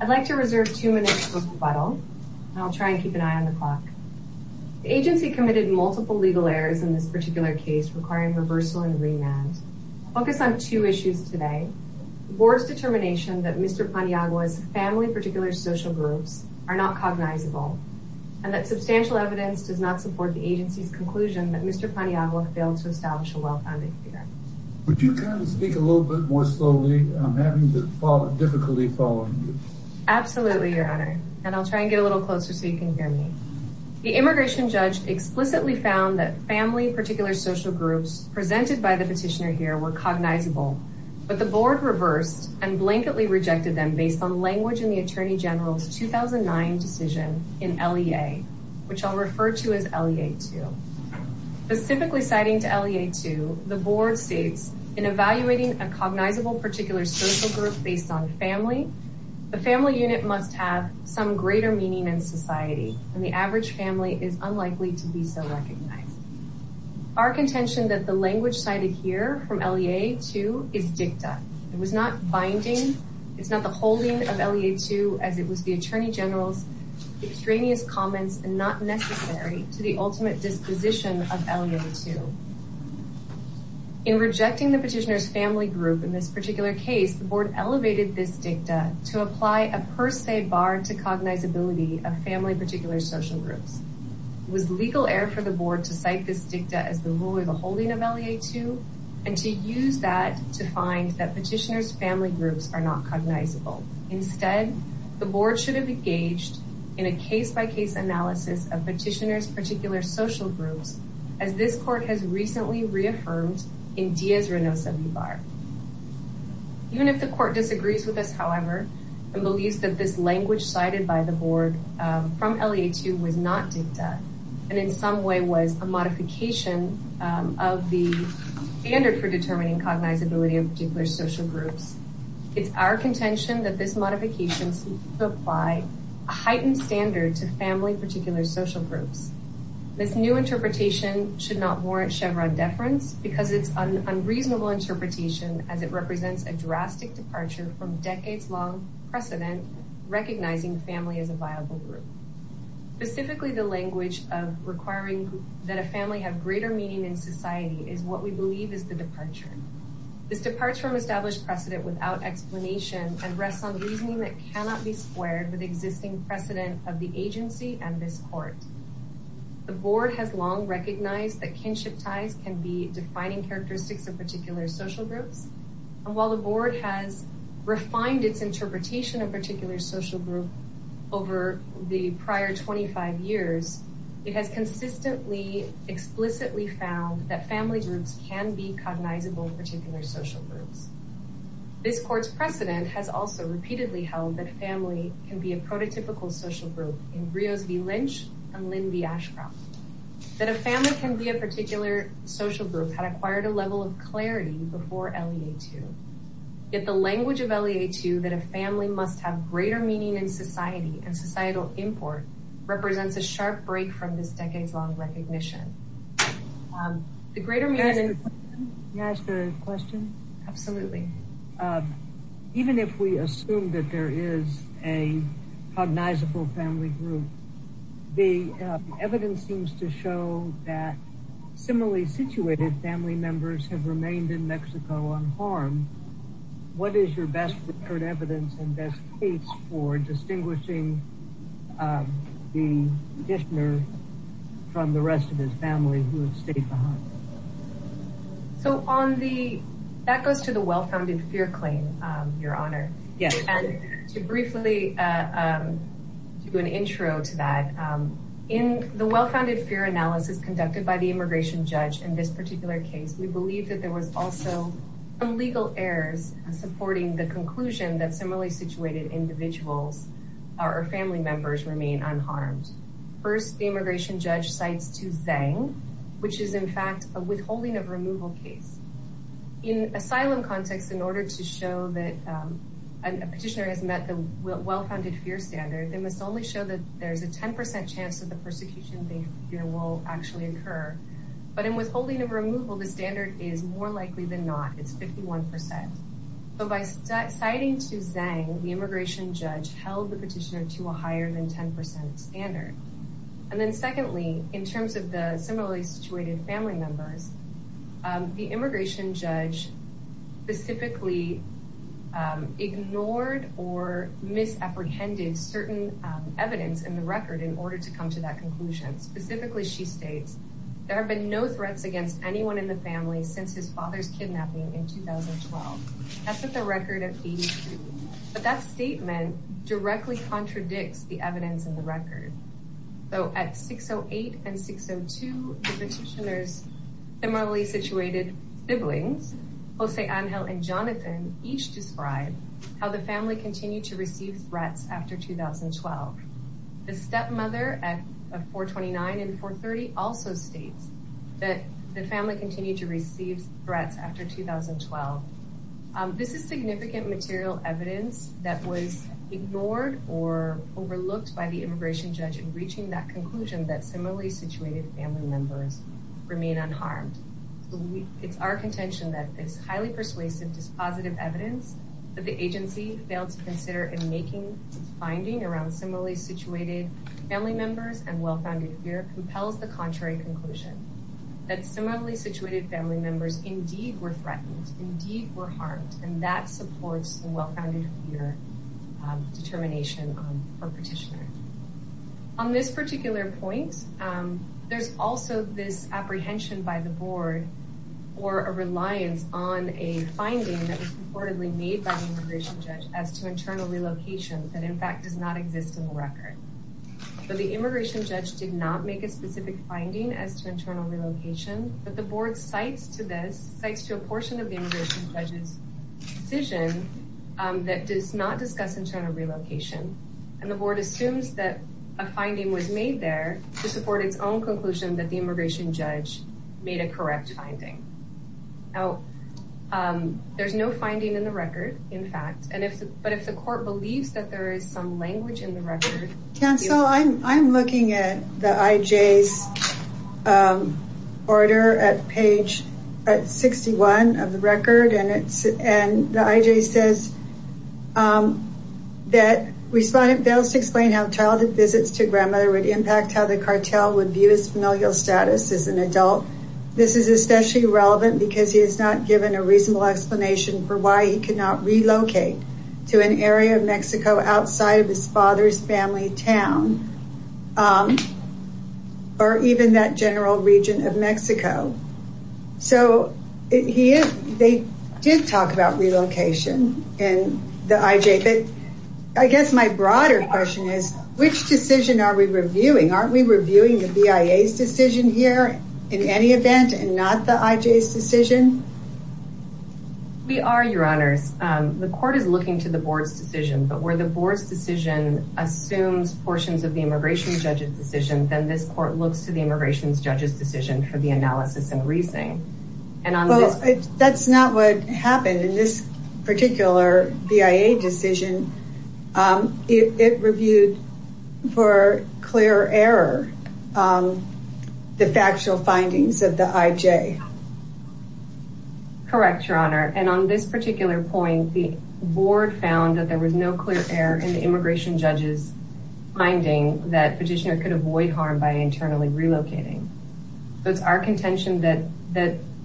I'd like to reserve two minutes for rebuttal, and I'll try and keep an eye on the clock. The agency committed multiple legal errors in this particular case requiring reversal and remand. I'll focus on two issues today. The Board's determination that Mr. Paniagua's family-particular social groups are not cognizable, and that substantial evidence does not support the agency's conclusion that Mr. Paniagua failed to establish a well-founded theory. Would you kind of speak a little bit more slowly? I'm having difficulty following you. Absolutely, Your Honor, and I'll try and get a little closer so you can hear me. The immigration judge explicitly found that family-particular social groups presented by the petitioner here were cognizable, but the Board reversed and blanketly rejected them based on language in the Attorney General's 2009 decision in LEA, which I'll refer to as LEA 2. Specifically citing to LEA 2, the Board states, In evaluating a cognizable particular social group based on family, the family unit must have some greater meaning in society, and the average family is unlikely to be so recognized. Our contention that the language cited here from LEA 2 is dicta. It was not binding, it's not the holding of LEA 2 as it was the Attorney General's extraneous comments, and not necessary to the ultimate disposition of LEA 2. In rejecting the petitioner's family group in this particular case, the Board elevated this dicta to apply a per se bar to cognizability of family-particular social groups. It was legal error for the Board to cite this dicta as the rule or the holding of LEA 2, and to use that to find that petitioner's family groups are not cognizable. Instead, the Board should have engaged in a case-by-case analysis of petitioner's particular social groups, as this Court has recently reaffirmed in Diaz-Renosa v. Barr. Even if the Court disagrees with us, however, and believes that this language cited by the Board from LEA 2 was not dicta, and in some way was a modification of the standard for determining cognizability of particular social groups, it's our contention that this modification should apply a heightened standard to family-particular social groups. This new interpretation should not warrant Chevron deference because it's an unreasonable interpretation as it represents a drastic departure from decades-long precedent recognizing family as a viable group. Specifically, the language of requiring that a family have greater meaning in society is what we believe is the departure. This departure from established precedent without explanation and rests on reasoning that cannot be squared with existing precedent of the agency and this Court. The Board has long recognized that kinship ties can be defining characteristics of particular social groups, and while the Board has refined its interpretation of particular social groups over the prior 25 years, it has consistently, explicitly found that family groups can be cognizable in particular social groups. This Court's precedent has also repeatedly held that family can be a prototypical social group in Rios v. Lynch and Lynn v. Ashcroft. That a family can be a particular social group had acquired a level of clarity before LEA 2. Yet the language of LEA 2 that a family must have greater meaning in society and societal import represents a sharp break from this decades-long recognition. Can I ask a question? Absolutely. Even if we assume that there is a cognizable family group, the evidence seems to show that similarly situated family members have remained in Mexico unharmed. What is your best-recorded evidence and best case for distinguishing the petitioner from the rest of his family who have stayed behind? That goes to the well-founded fear claim, Your Honor. Yes. To briefly do an intro to that, in the well-founded fear analysis conducted by the immigration judge in this particular case, we believe that there was also some legal errors supporting the conclusion that similarly situated individuals or family members remain unharmed. First, the immigration judge cites Tuzang, which is in fact a withholding of removal case. In asylum context, in order to show that a petitioner has met the well-founded fear standard, they must only show that there is a 10% chance that the persecution they fear will actually occur. But in withholding of removal, the standard is more likely than not. It's 51%. So by citing Tuzang, the immigration judge held the petitioner to a higher than 10% standard. And then secondly, in terms of the similarly situated family members, the immigration judge specifically ignored or misapprehended certain evidence in the record in order to come to that conclusion. Specifically, she states, there have been no threats against anyone in the family since his father's kidnapping in 2012. That's at the record of 82. But that statement directly contradicts the evidence in the record. So at 608 and 602, the petitioner's similarly situated siblings, Jose, Angel, and Jonathan, each describe how the family continued to receive threats after 2012. The stepmother at 429 and 430 also states that the family continued to receive threats after 2012. This is significant material evidence that was ignored or overlooked by the immigration judge in reaching that conclusion that similarly situated family members remain unharmed. It's our contention that it's highly persuasive dispositive evidence, but the agency failed to consider in making its finding around similarly situated family members and well-founded fear compels the contrary conclusion, that similarly situated family members indeed were threatened, indeed were harmed, and that supports the well-founded fear determination for petitioner. On this particular point, there's also this apprehension by the board or a reliance on a finding that was purportedly made by the immigration judge as to internal relocation that, in fact, does not exist in the record. But the immigration judge did not make a specific finding as to internal relocation, but the board cites to this, cites to a portion of the immigration judge's decision that does not discuss internal relocation, and the board assumes that a finding was made there to support its own conclusion that the immigration judge made a correct finding. Now, there's no finding in the record, in fact, but if the court believes that there is some language in the record... Cancel. I'm looking at the IJ's order at page 61 of the record, and the IJ says that respondent fails to explain how childhood visits to grandmother would impact how the cartel would view his familial status as an adult. This is especially relevant because he is not given a reasonable explanation for why he could not relocate to an area of Mexico outside of his father's family town or even that general region of Mexico. So they did talk about relocation in the IJ, but I guess my broader question is, which decision are we reviewing? Aren't we reviewing the BIA's decision here in any event and not the IJ's decision? We are, Your Honors. The court is looking to the board's decision, but where the board's decision assumes portions of the immigration judge's decision, then this court looks to the immigration judge's decision for the analysis and reasoning. That's not what happened in this particular BIA decision. It reviewed for clear error the factual findings of the IJ. Correct, Your Honor. And on this particular point, the board found that there was no clear error in the immigration judge's finding that petitioner could avoid harm by internally relocating. So it's our contention that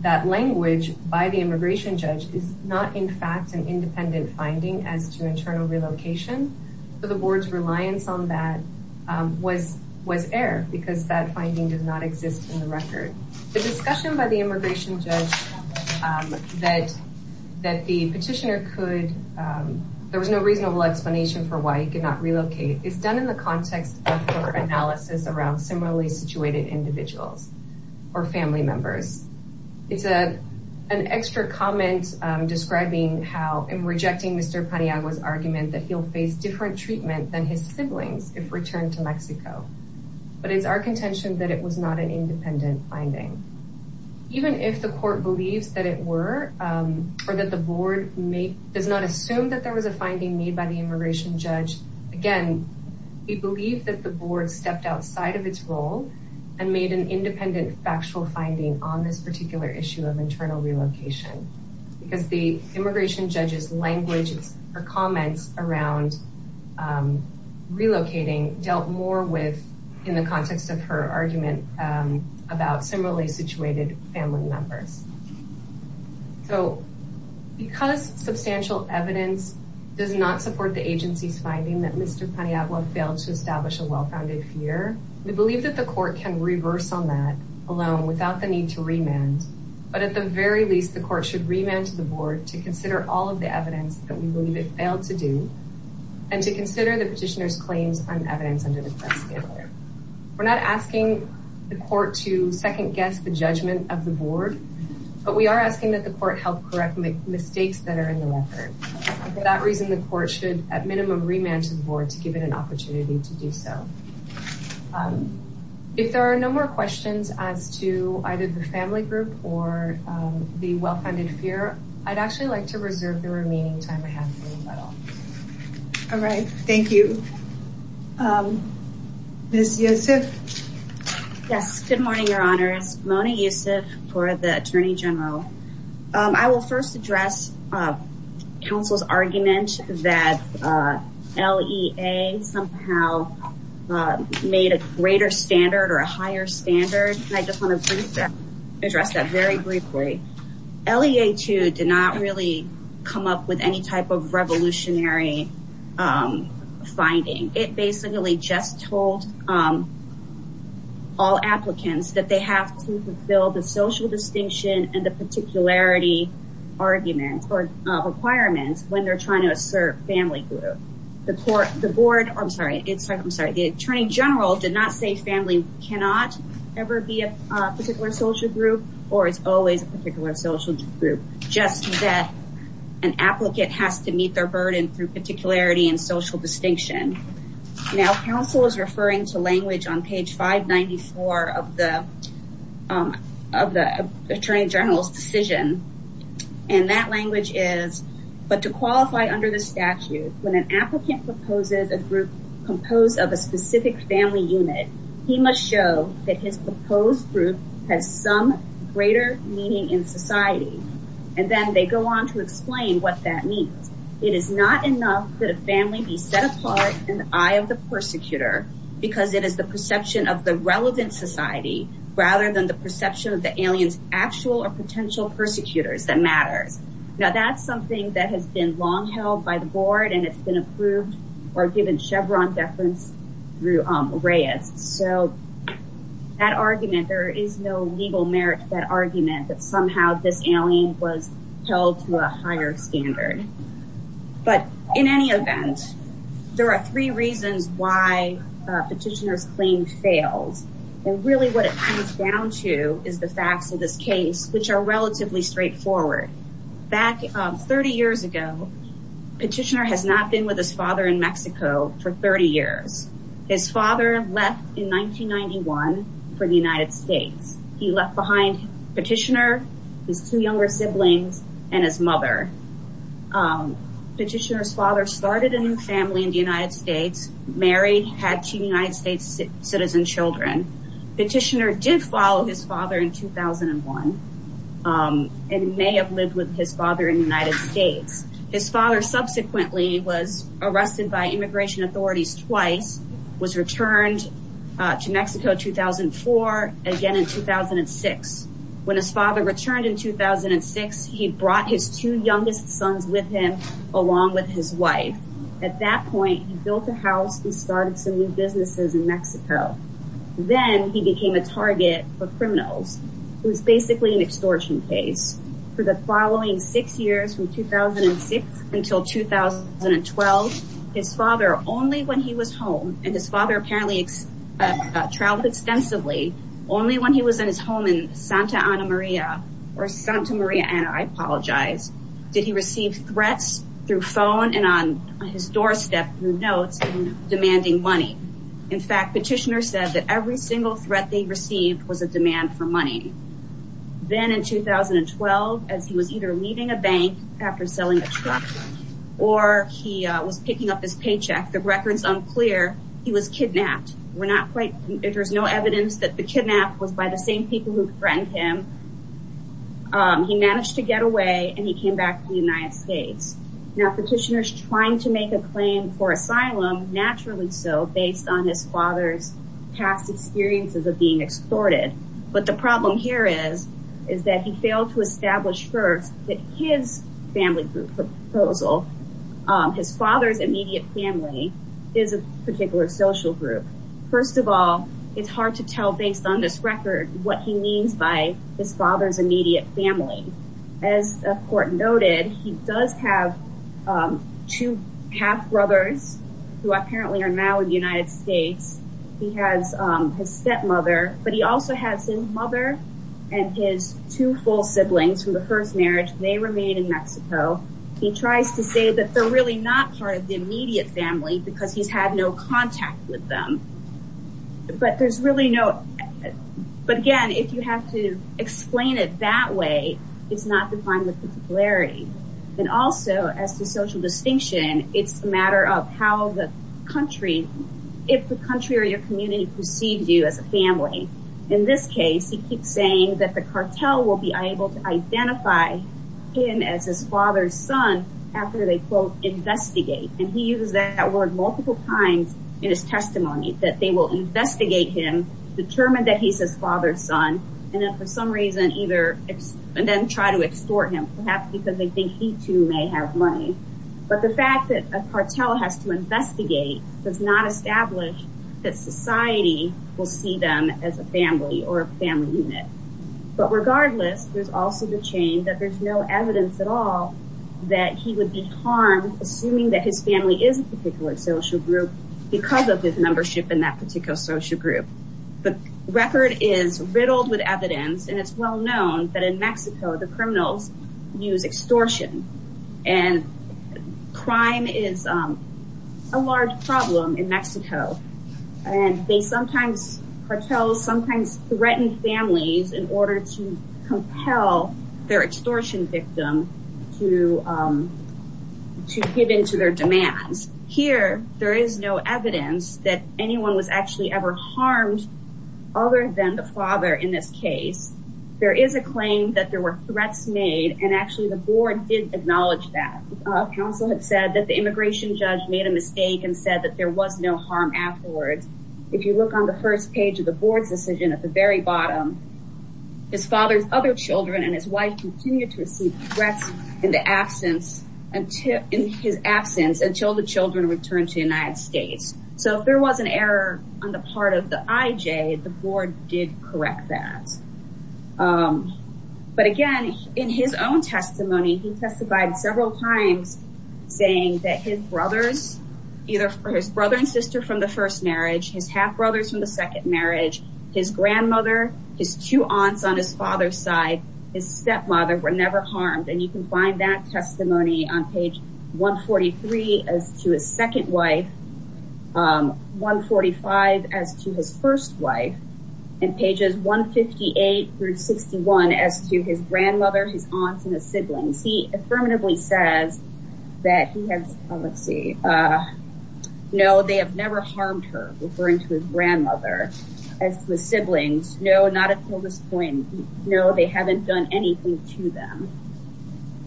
that language by the immigration judge is not in fact an independent finding as to internal relocation. So the board's reliance on that was error because that finding does not exist in the record. The discussion by the immigration judge that the petitioner could, there was no reasonable explanation for why he could not relocate, is done in the context of her analysis around similarly situated individuals or family members. It's an extra comment describing how in rejecting Mr. Paniagua's argument that he'll face different treatment than his siblings if returned to Mexico. But it's our contention that it was not an independent finding. Even if the court believes that it were, or that the board does not assume that there was a finding made by the immigration judge, again, we believe that the board stepped outside of its role and made an independent factual finding on this particular issue of internal relocation. Because the immigration judge's language or comments around relocating dealt more with, in the context of her argument, about similarly situated family members. So because substantial evidence does not support the agency's finding that Mr. Paniagua failed to establish a well-founded fear, we believe that the court can reverse on that alone without the need to remand. But at the very least, the court should remand to the board to consider all of the evidence that we believe it failed to do, and to consider the petitioner's claims on evidence under the press scandal. We're not asking the court to second-guess the judgment of the board, but we are asking that the court help correct mistakes that are in the record. For that reason, the court should, at minimum, remand to the board to give it an opportunity to do so. If there are no more questions as to either the family group or the well-founded fear, I'd actually like to reserve the remaining time I have for you all. All right. Thank you. Ms. Yusuf? Yes. Good morning, Your Honors. Mona Yusuf for the Attorney General. I will first address counsel's argument that LEA somehow made a greater standard or a higher standard. I just want to address that very briefly. LEA, too, did not really come up with any type of revolutionary finding. It basically just told all applicants that they have to fulfill the social distinction and the particularity argument or requirements when they're trying to assert family group. The board—I'm sorry. I'm sorry. The Attorney General did not say family cannot ever be a particular social group or it's always a particular social group, just that an applicant has to meet their burden through particularity and social distinction. Now, counsel is referring to language on page 594 of the Attorney General's decision. That language is, but to qualify under the statute, when an applicant proposes a group composed of a specific family unit, he must show that his proposed group has some greater meaning in society, and then they go on to explain what that means. It is not enough that a family be set apart in the eye of the persecutor because it is the perception of the relevant society rather than the perception of the alien's actual or potential persecutors that matters. Now, that's something that has been long held by the board and it's been approved or given Chevron deference through Reyes. So that argument, there is no legal merit to that argument that somehow this alien was held to a higher standard. But in any event, there are three reasons why a petitioner's claim fails. And really what it comes down to is the facts of this case, which are relatively straightforward. Back 30 years ago, petitioner has not been with his father in Mexico for 30 years. His father left in 1991 for the United States. He left behind petitioner, his two younger siblings, and his mother. Petitioner's father started a new family in the United States, married, had two United States citizen children. Petitioner did follow his father in 2001 and may have lived with his father in the United States. His father subsequently was arrested by immigration authorities twice, was returned to Mexico 2004, again in 2006. When his father returned in 2006, he brought his two youngest sons with him along with his wife. At that point, he built a house and started some new businesses in Mexico. Then he became a target for criminals. It was basically an extortion case. For the following six years, from 2006 until 2012, his father, only when he was home, and his father apparently traveled extensively, only when he was in his home in Santa Ana Maria, or Santa Maria Ana, I apologize, did he receive threats through phone and on his doorstep, through notes, demanding money. In fact, petitioner said that every single threat they received was a demand for money. Then in 2012, as he was either leaving a bank after selling a truck, or he was picking up his paycheck, the record's unclear, he was kidnapped. There's no evidence that the kidnap was by the same people who threatened him. He managed to get away and he came back to the United States. Naturally so, based on his father's past experiences of being extorted. But the problem here is that he failed to establish first that his family group proposal, his father's immediate family, is a particular social group. First of all, it's hard to tell based on this record what he means by his father's immediate family. As the court noted, he does have two half-brothers who apparently are now in the United States. He has his stepmother, but he also has his mother and his two full siblings from the first marriage. They remain in Mexico. He tries to say that they're really not part of the immediate family because he's had no contact with them. But there's really no... But again, if you have to explain it that way, it's not defined with particularity. And also, as to social distinction, it's a matter of how the country, if the country or your community perceives you as a family. In this case, he keeps saying that the cartel will be able to identify him as his father's son after they, quote, investigate. And he uses that word multiple times in his testimony, that they will investigate him, determine that he's his father's son, and then for some reason either... And then try to extort him, perhaps because they think he too may have money. But the fact that a cartel has to investigate does not establish that society will see them as a family or a family unit. But regardless, there's also the chain that there's no evidence at all that he would be harmed assuming that his family is a particular social group because of his membership in that particular social group. The record is riddled with evidence, and it's well known that in Mexico, the criminals use extortion. And crime is a large problem in Mexico. And they sometimes, cartels sometimes threaten families in order to compel their extortion victim to give in to their demands. Here, there is no evidence that anyone was actually ever harmed other than the father in this case. There is a claim that there were threats made, and actually the board did acknowledge that. Counsel had said that the immigration judge made a mistake and said that there was no harm afterwards. If you look on the first page of the board's decision at the very bottom, his father's other children and his wife continued to receive threats in his absence until the children returned to the United States. So if there was an error on the part of the IJ, the board did correct that. But again, in his own testimony, he testified several times saying that his brothers, either for his brother and sister from the first marriage, his half brothers from the second marriage, his grandmother, his two aunts on his father's side, his stepmother were never harmed. And you can find that testimony on page 143 as to his second wife, 145 as to his first wife, and pages 158 through 61 as to his grandmother, his aunts and his siblings. He affirmatively says that he has, let's see. No, they have never harmed her, referring to his grandmother. As to his siblings, no, not until this point. No, they haven't done anything to them.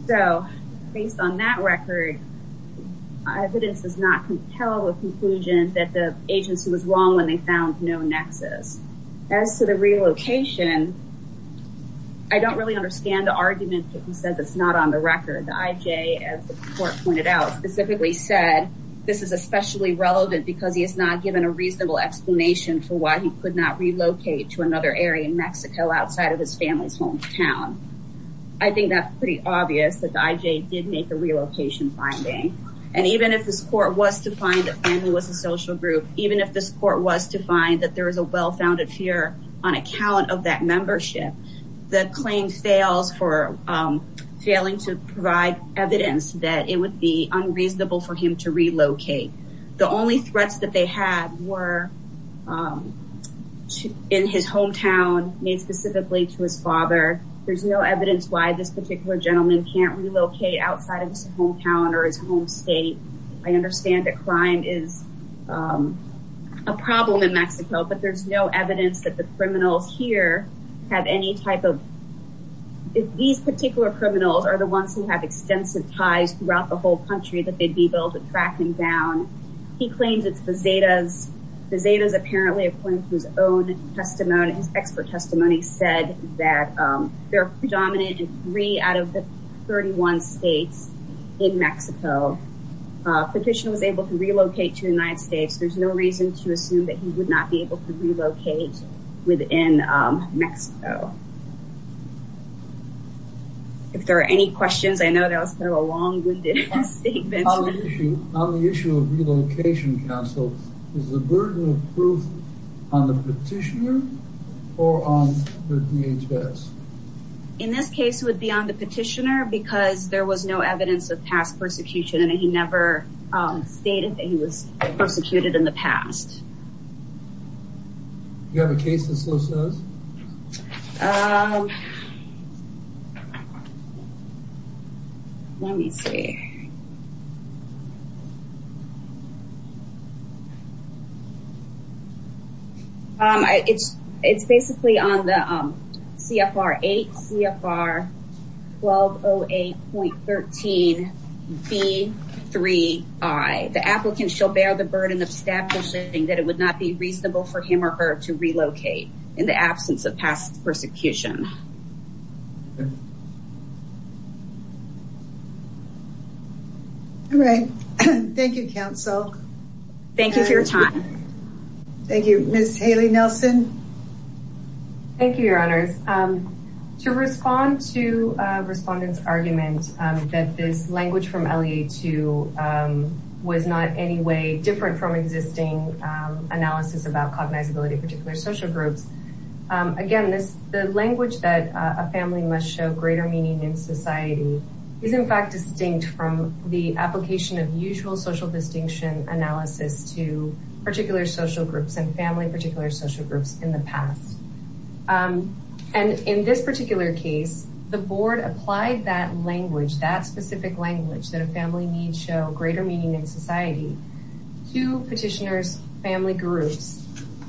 So based on that record, evidence does not compel a conclusion that the agency was wrong when they found no nexus. As to the relocation, I don't really understand the argument that he said that's not on the record. The IJ, as the court pointed out, specifically said this is especially relevant because he is not given a reasonable explanation for why he could not relocate to another area in Mexico outside of his family's hometown. I think that's pretty obvious that the IJ did make a relocation finding. And even if this court was to find that family was a social group, even if this court was to find that there was a well-founded fear on account of that membership, the claim fails for failing to provide evidence that it would be unreasonable for him to relocate. The only threats that they had were in his hometown, made specifically to his father. There's no evidence why this particular gentleman can't relocate outside of his hometown or his home state. I understand that crime is a problem in Mexico, but there's no evidence that the criminals here have any type of... He claims it's Bezaida's, Bezaida's apparently according to his own testimony, his expert testimony said that they're predominant in three out of the 31 states in Mexico. Petitioner was able to relocate to the United States. There's no reason to assume that he would not be able to relocate within Mexico. If there are any questions, I know that was kind of a long-winded statement. On the issue of relocation counsel, is the burden of proof on the petitioner or on the DHS? In this case, it would be on the petitioner because there was no evidence of past persecution and he never stated that he was persecuted in the past. Do you have a case that so says? Let me see. It's basically on the CFR 8, CFR 1208.13B3I. The applicant shall bear the burden of establishing that it would not be reasonable for him or her to relocate in the absence of past persecution. All right. Thank you, counsel. Thank you for your time. Thank you. Ms. Haley-Nelson. Thank you, your honors. To respond to a respondent's argument that this language from LEA-2 was not in any way different from existing analysis about cognizability of particular social groups. Again, the language that a family must show greater meaning in society is in fact distinct from the application of usual social distinction analysis to particular social groups and family particular social groups in the past. And in this particular case, the board applied that language, that specific language that a family needs show greater meaning in society to petitioner's family groups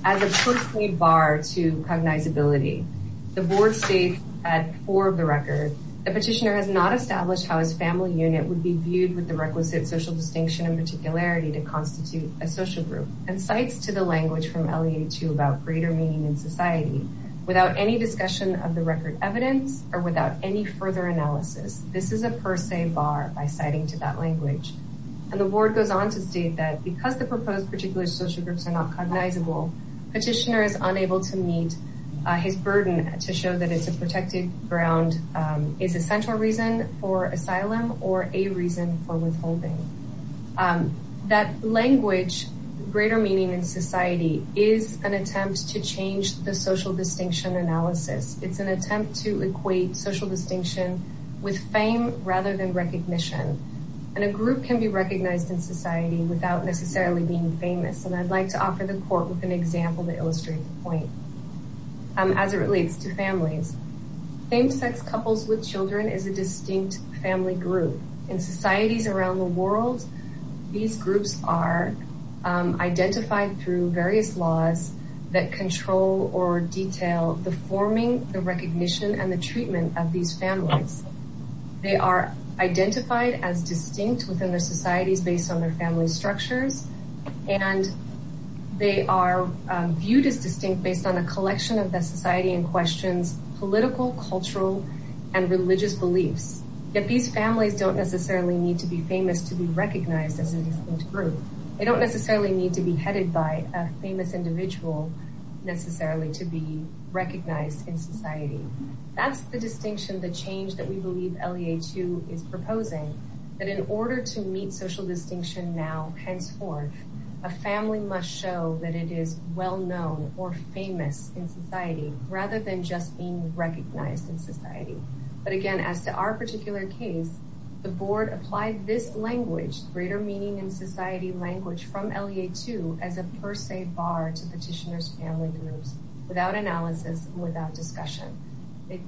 as a push me bar to cognizability. The board states at four of the record, the petitioner has not established how his family unit would be viewed with the requisite social distinction and particularity to constitute a social group and cites to the language from LEA-2 about greater meaning in society without any discussion of the record evidence or without any further analysis. This is a per se bar by citing to that language. And the board goes on to state that because the proposed particular social groups are not cognizable, petitioner is unable to meet his burden to show that it's a protected ground, is a central reason for asylum or a reason for withholding. That language, greater meaning in society is an attempt to change the social distinction analysis. It's an attempt to equate social distinction with fame rather than recognition. And a group can be recognized in society without necessarily being famous. And I'd like to offer the court with an example to illustrate the point as it relates to families. Same-sex couples with children is a distinct family group. In societies around the world, these groups are identified through various laws that control or detail the forming, the recognition, and the treatment of these families. They are identified as distinct within their societies based on their family structures, and they are viewed as distinct based on a collection of the society in questions, political, cultural, and religious beliefs. Yet these families don't necessarily need to be famous to be recognized as a distinct group. They don't necessarily need to be headed by a famous individual necessarily to be recognized in society. That's the distinction, the change that we believe LEA-2 is proposing, that in order to meet social distinction now, henceforth, a family must show that it is well-known or famous in society rather than just being recognized in society. But again, as to our particular case, the board applied this language, greater meaning in society language from LEA-2, as a per se bar to petitioners' family groups without analysis and without discussion.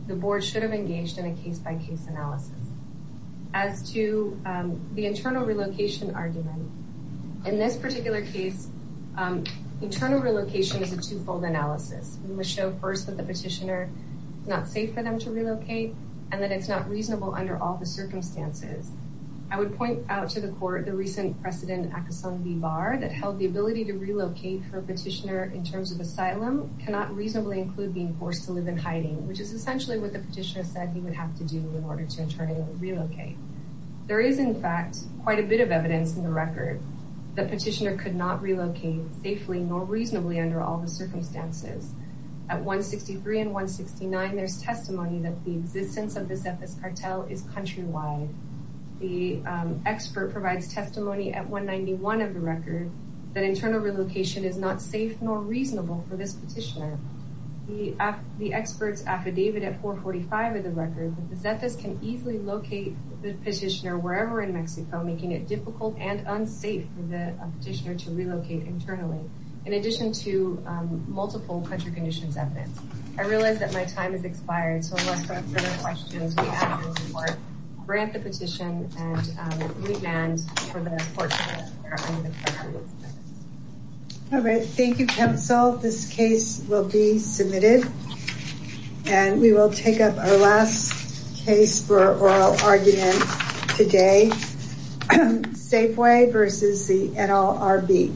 The board should have engaged in a case-by-case analysis. As to the internal relocation argument, in this particular case, internal relocation is a two-fold analysis. We must show first that the petitioner is not safe for them to relocate and that it's not reasonable under all the circumstances. I would point out to the court the recent precedent, Accuson v. Barr, that held the ability to relocate for a petitioner in terms of asylum cannot reasonably include being forced to live in hiding, which is essentially what the petitioner said he would have to do in order to internally relocate. There is, in fact, quite a bit of evidence in the record that the petitioner could not relocate safely nor reasonably under all the circumstances. At 163 and 169, there's testimony that the existence of this FS cartel is countrywide. The expert provides testimony at 191 of the record that internal relocation is not safe nor reasonable for this petitioner. The expert's affidavit at 445 of the record is that this can easily locate the petitioner wherever in Mexico, making it difficult and unsafe for the petitioner to relocate internally, in addition to multiple country conditions evidence. I realize that my time has expired, so unless there are further questions, we ask for your support, grant the petition, and we demand for the court's support. All right. Thank you, Council. This case will be submitted. And we will take up our last case for oral argument today, Safeway versus the NLRB.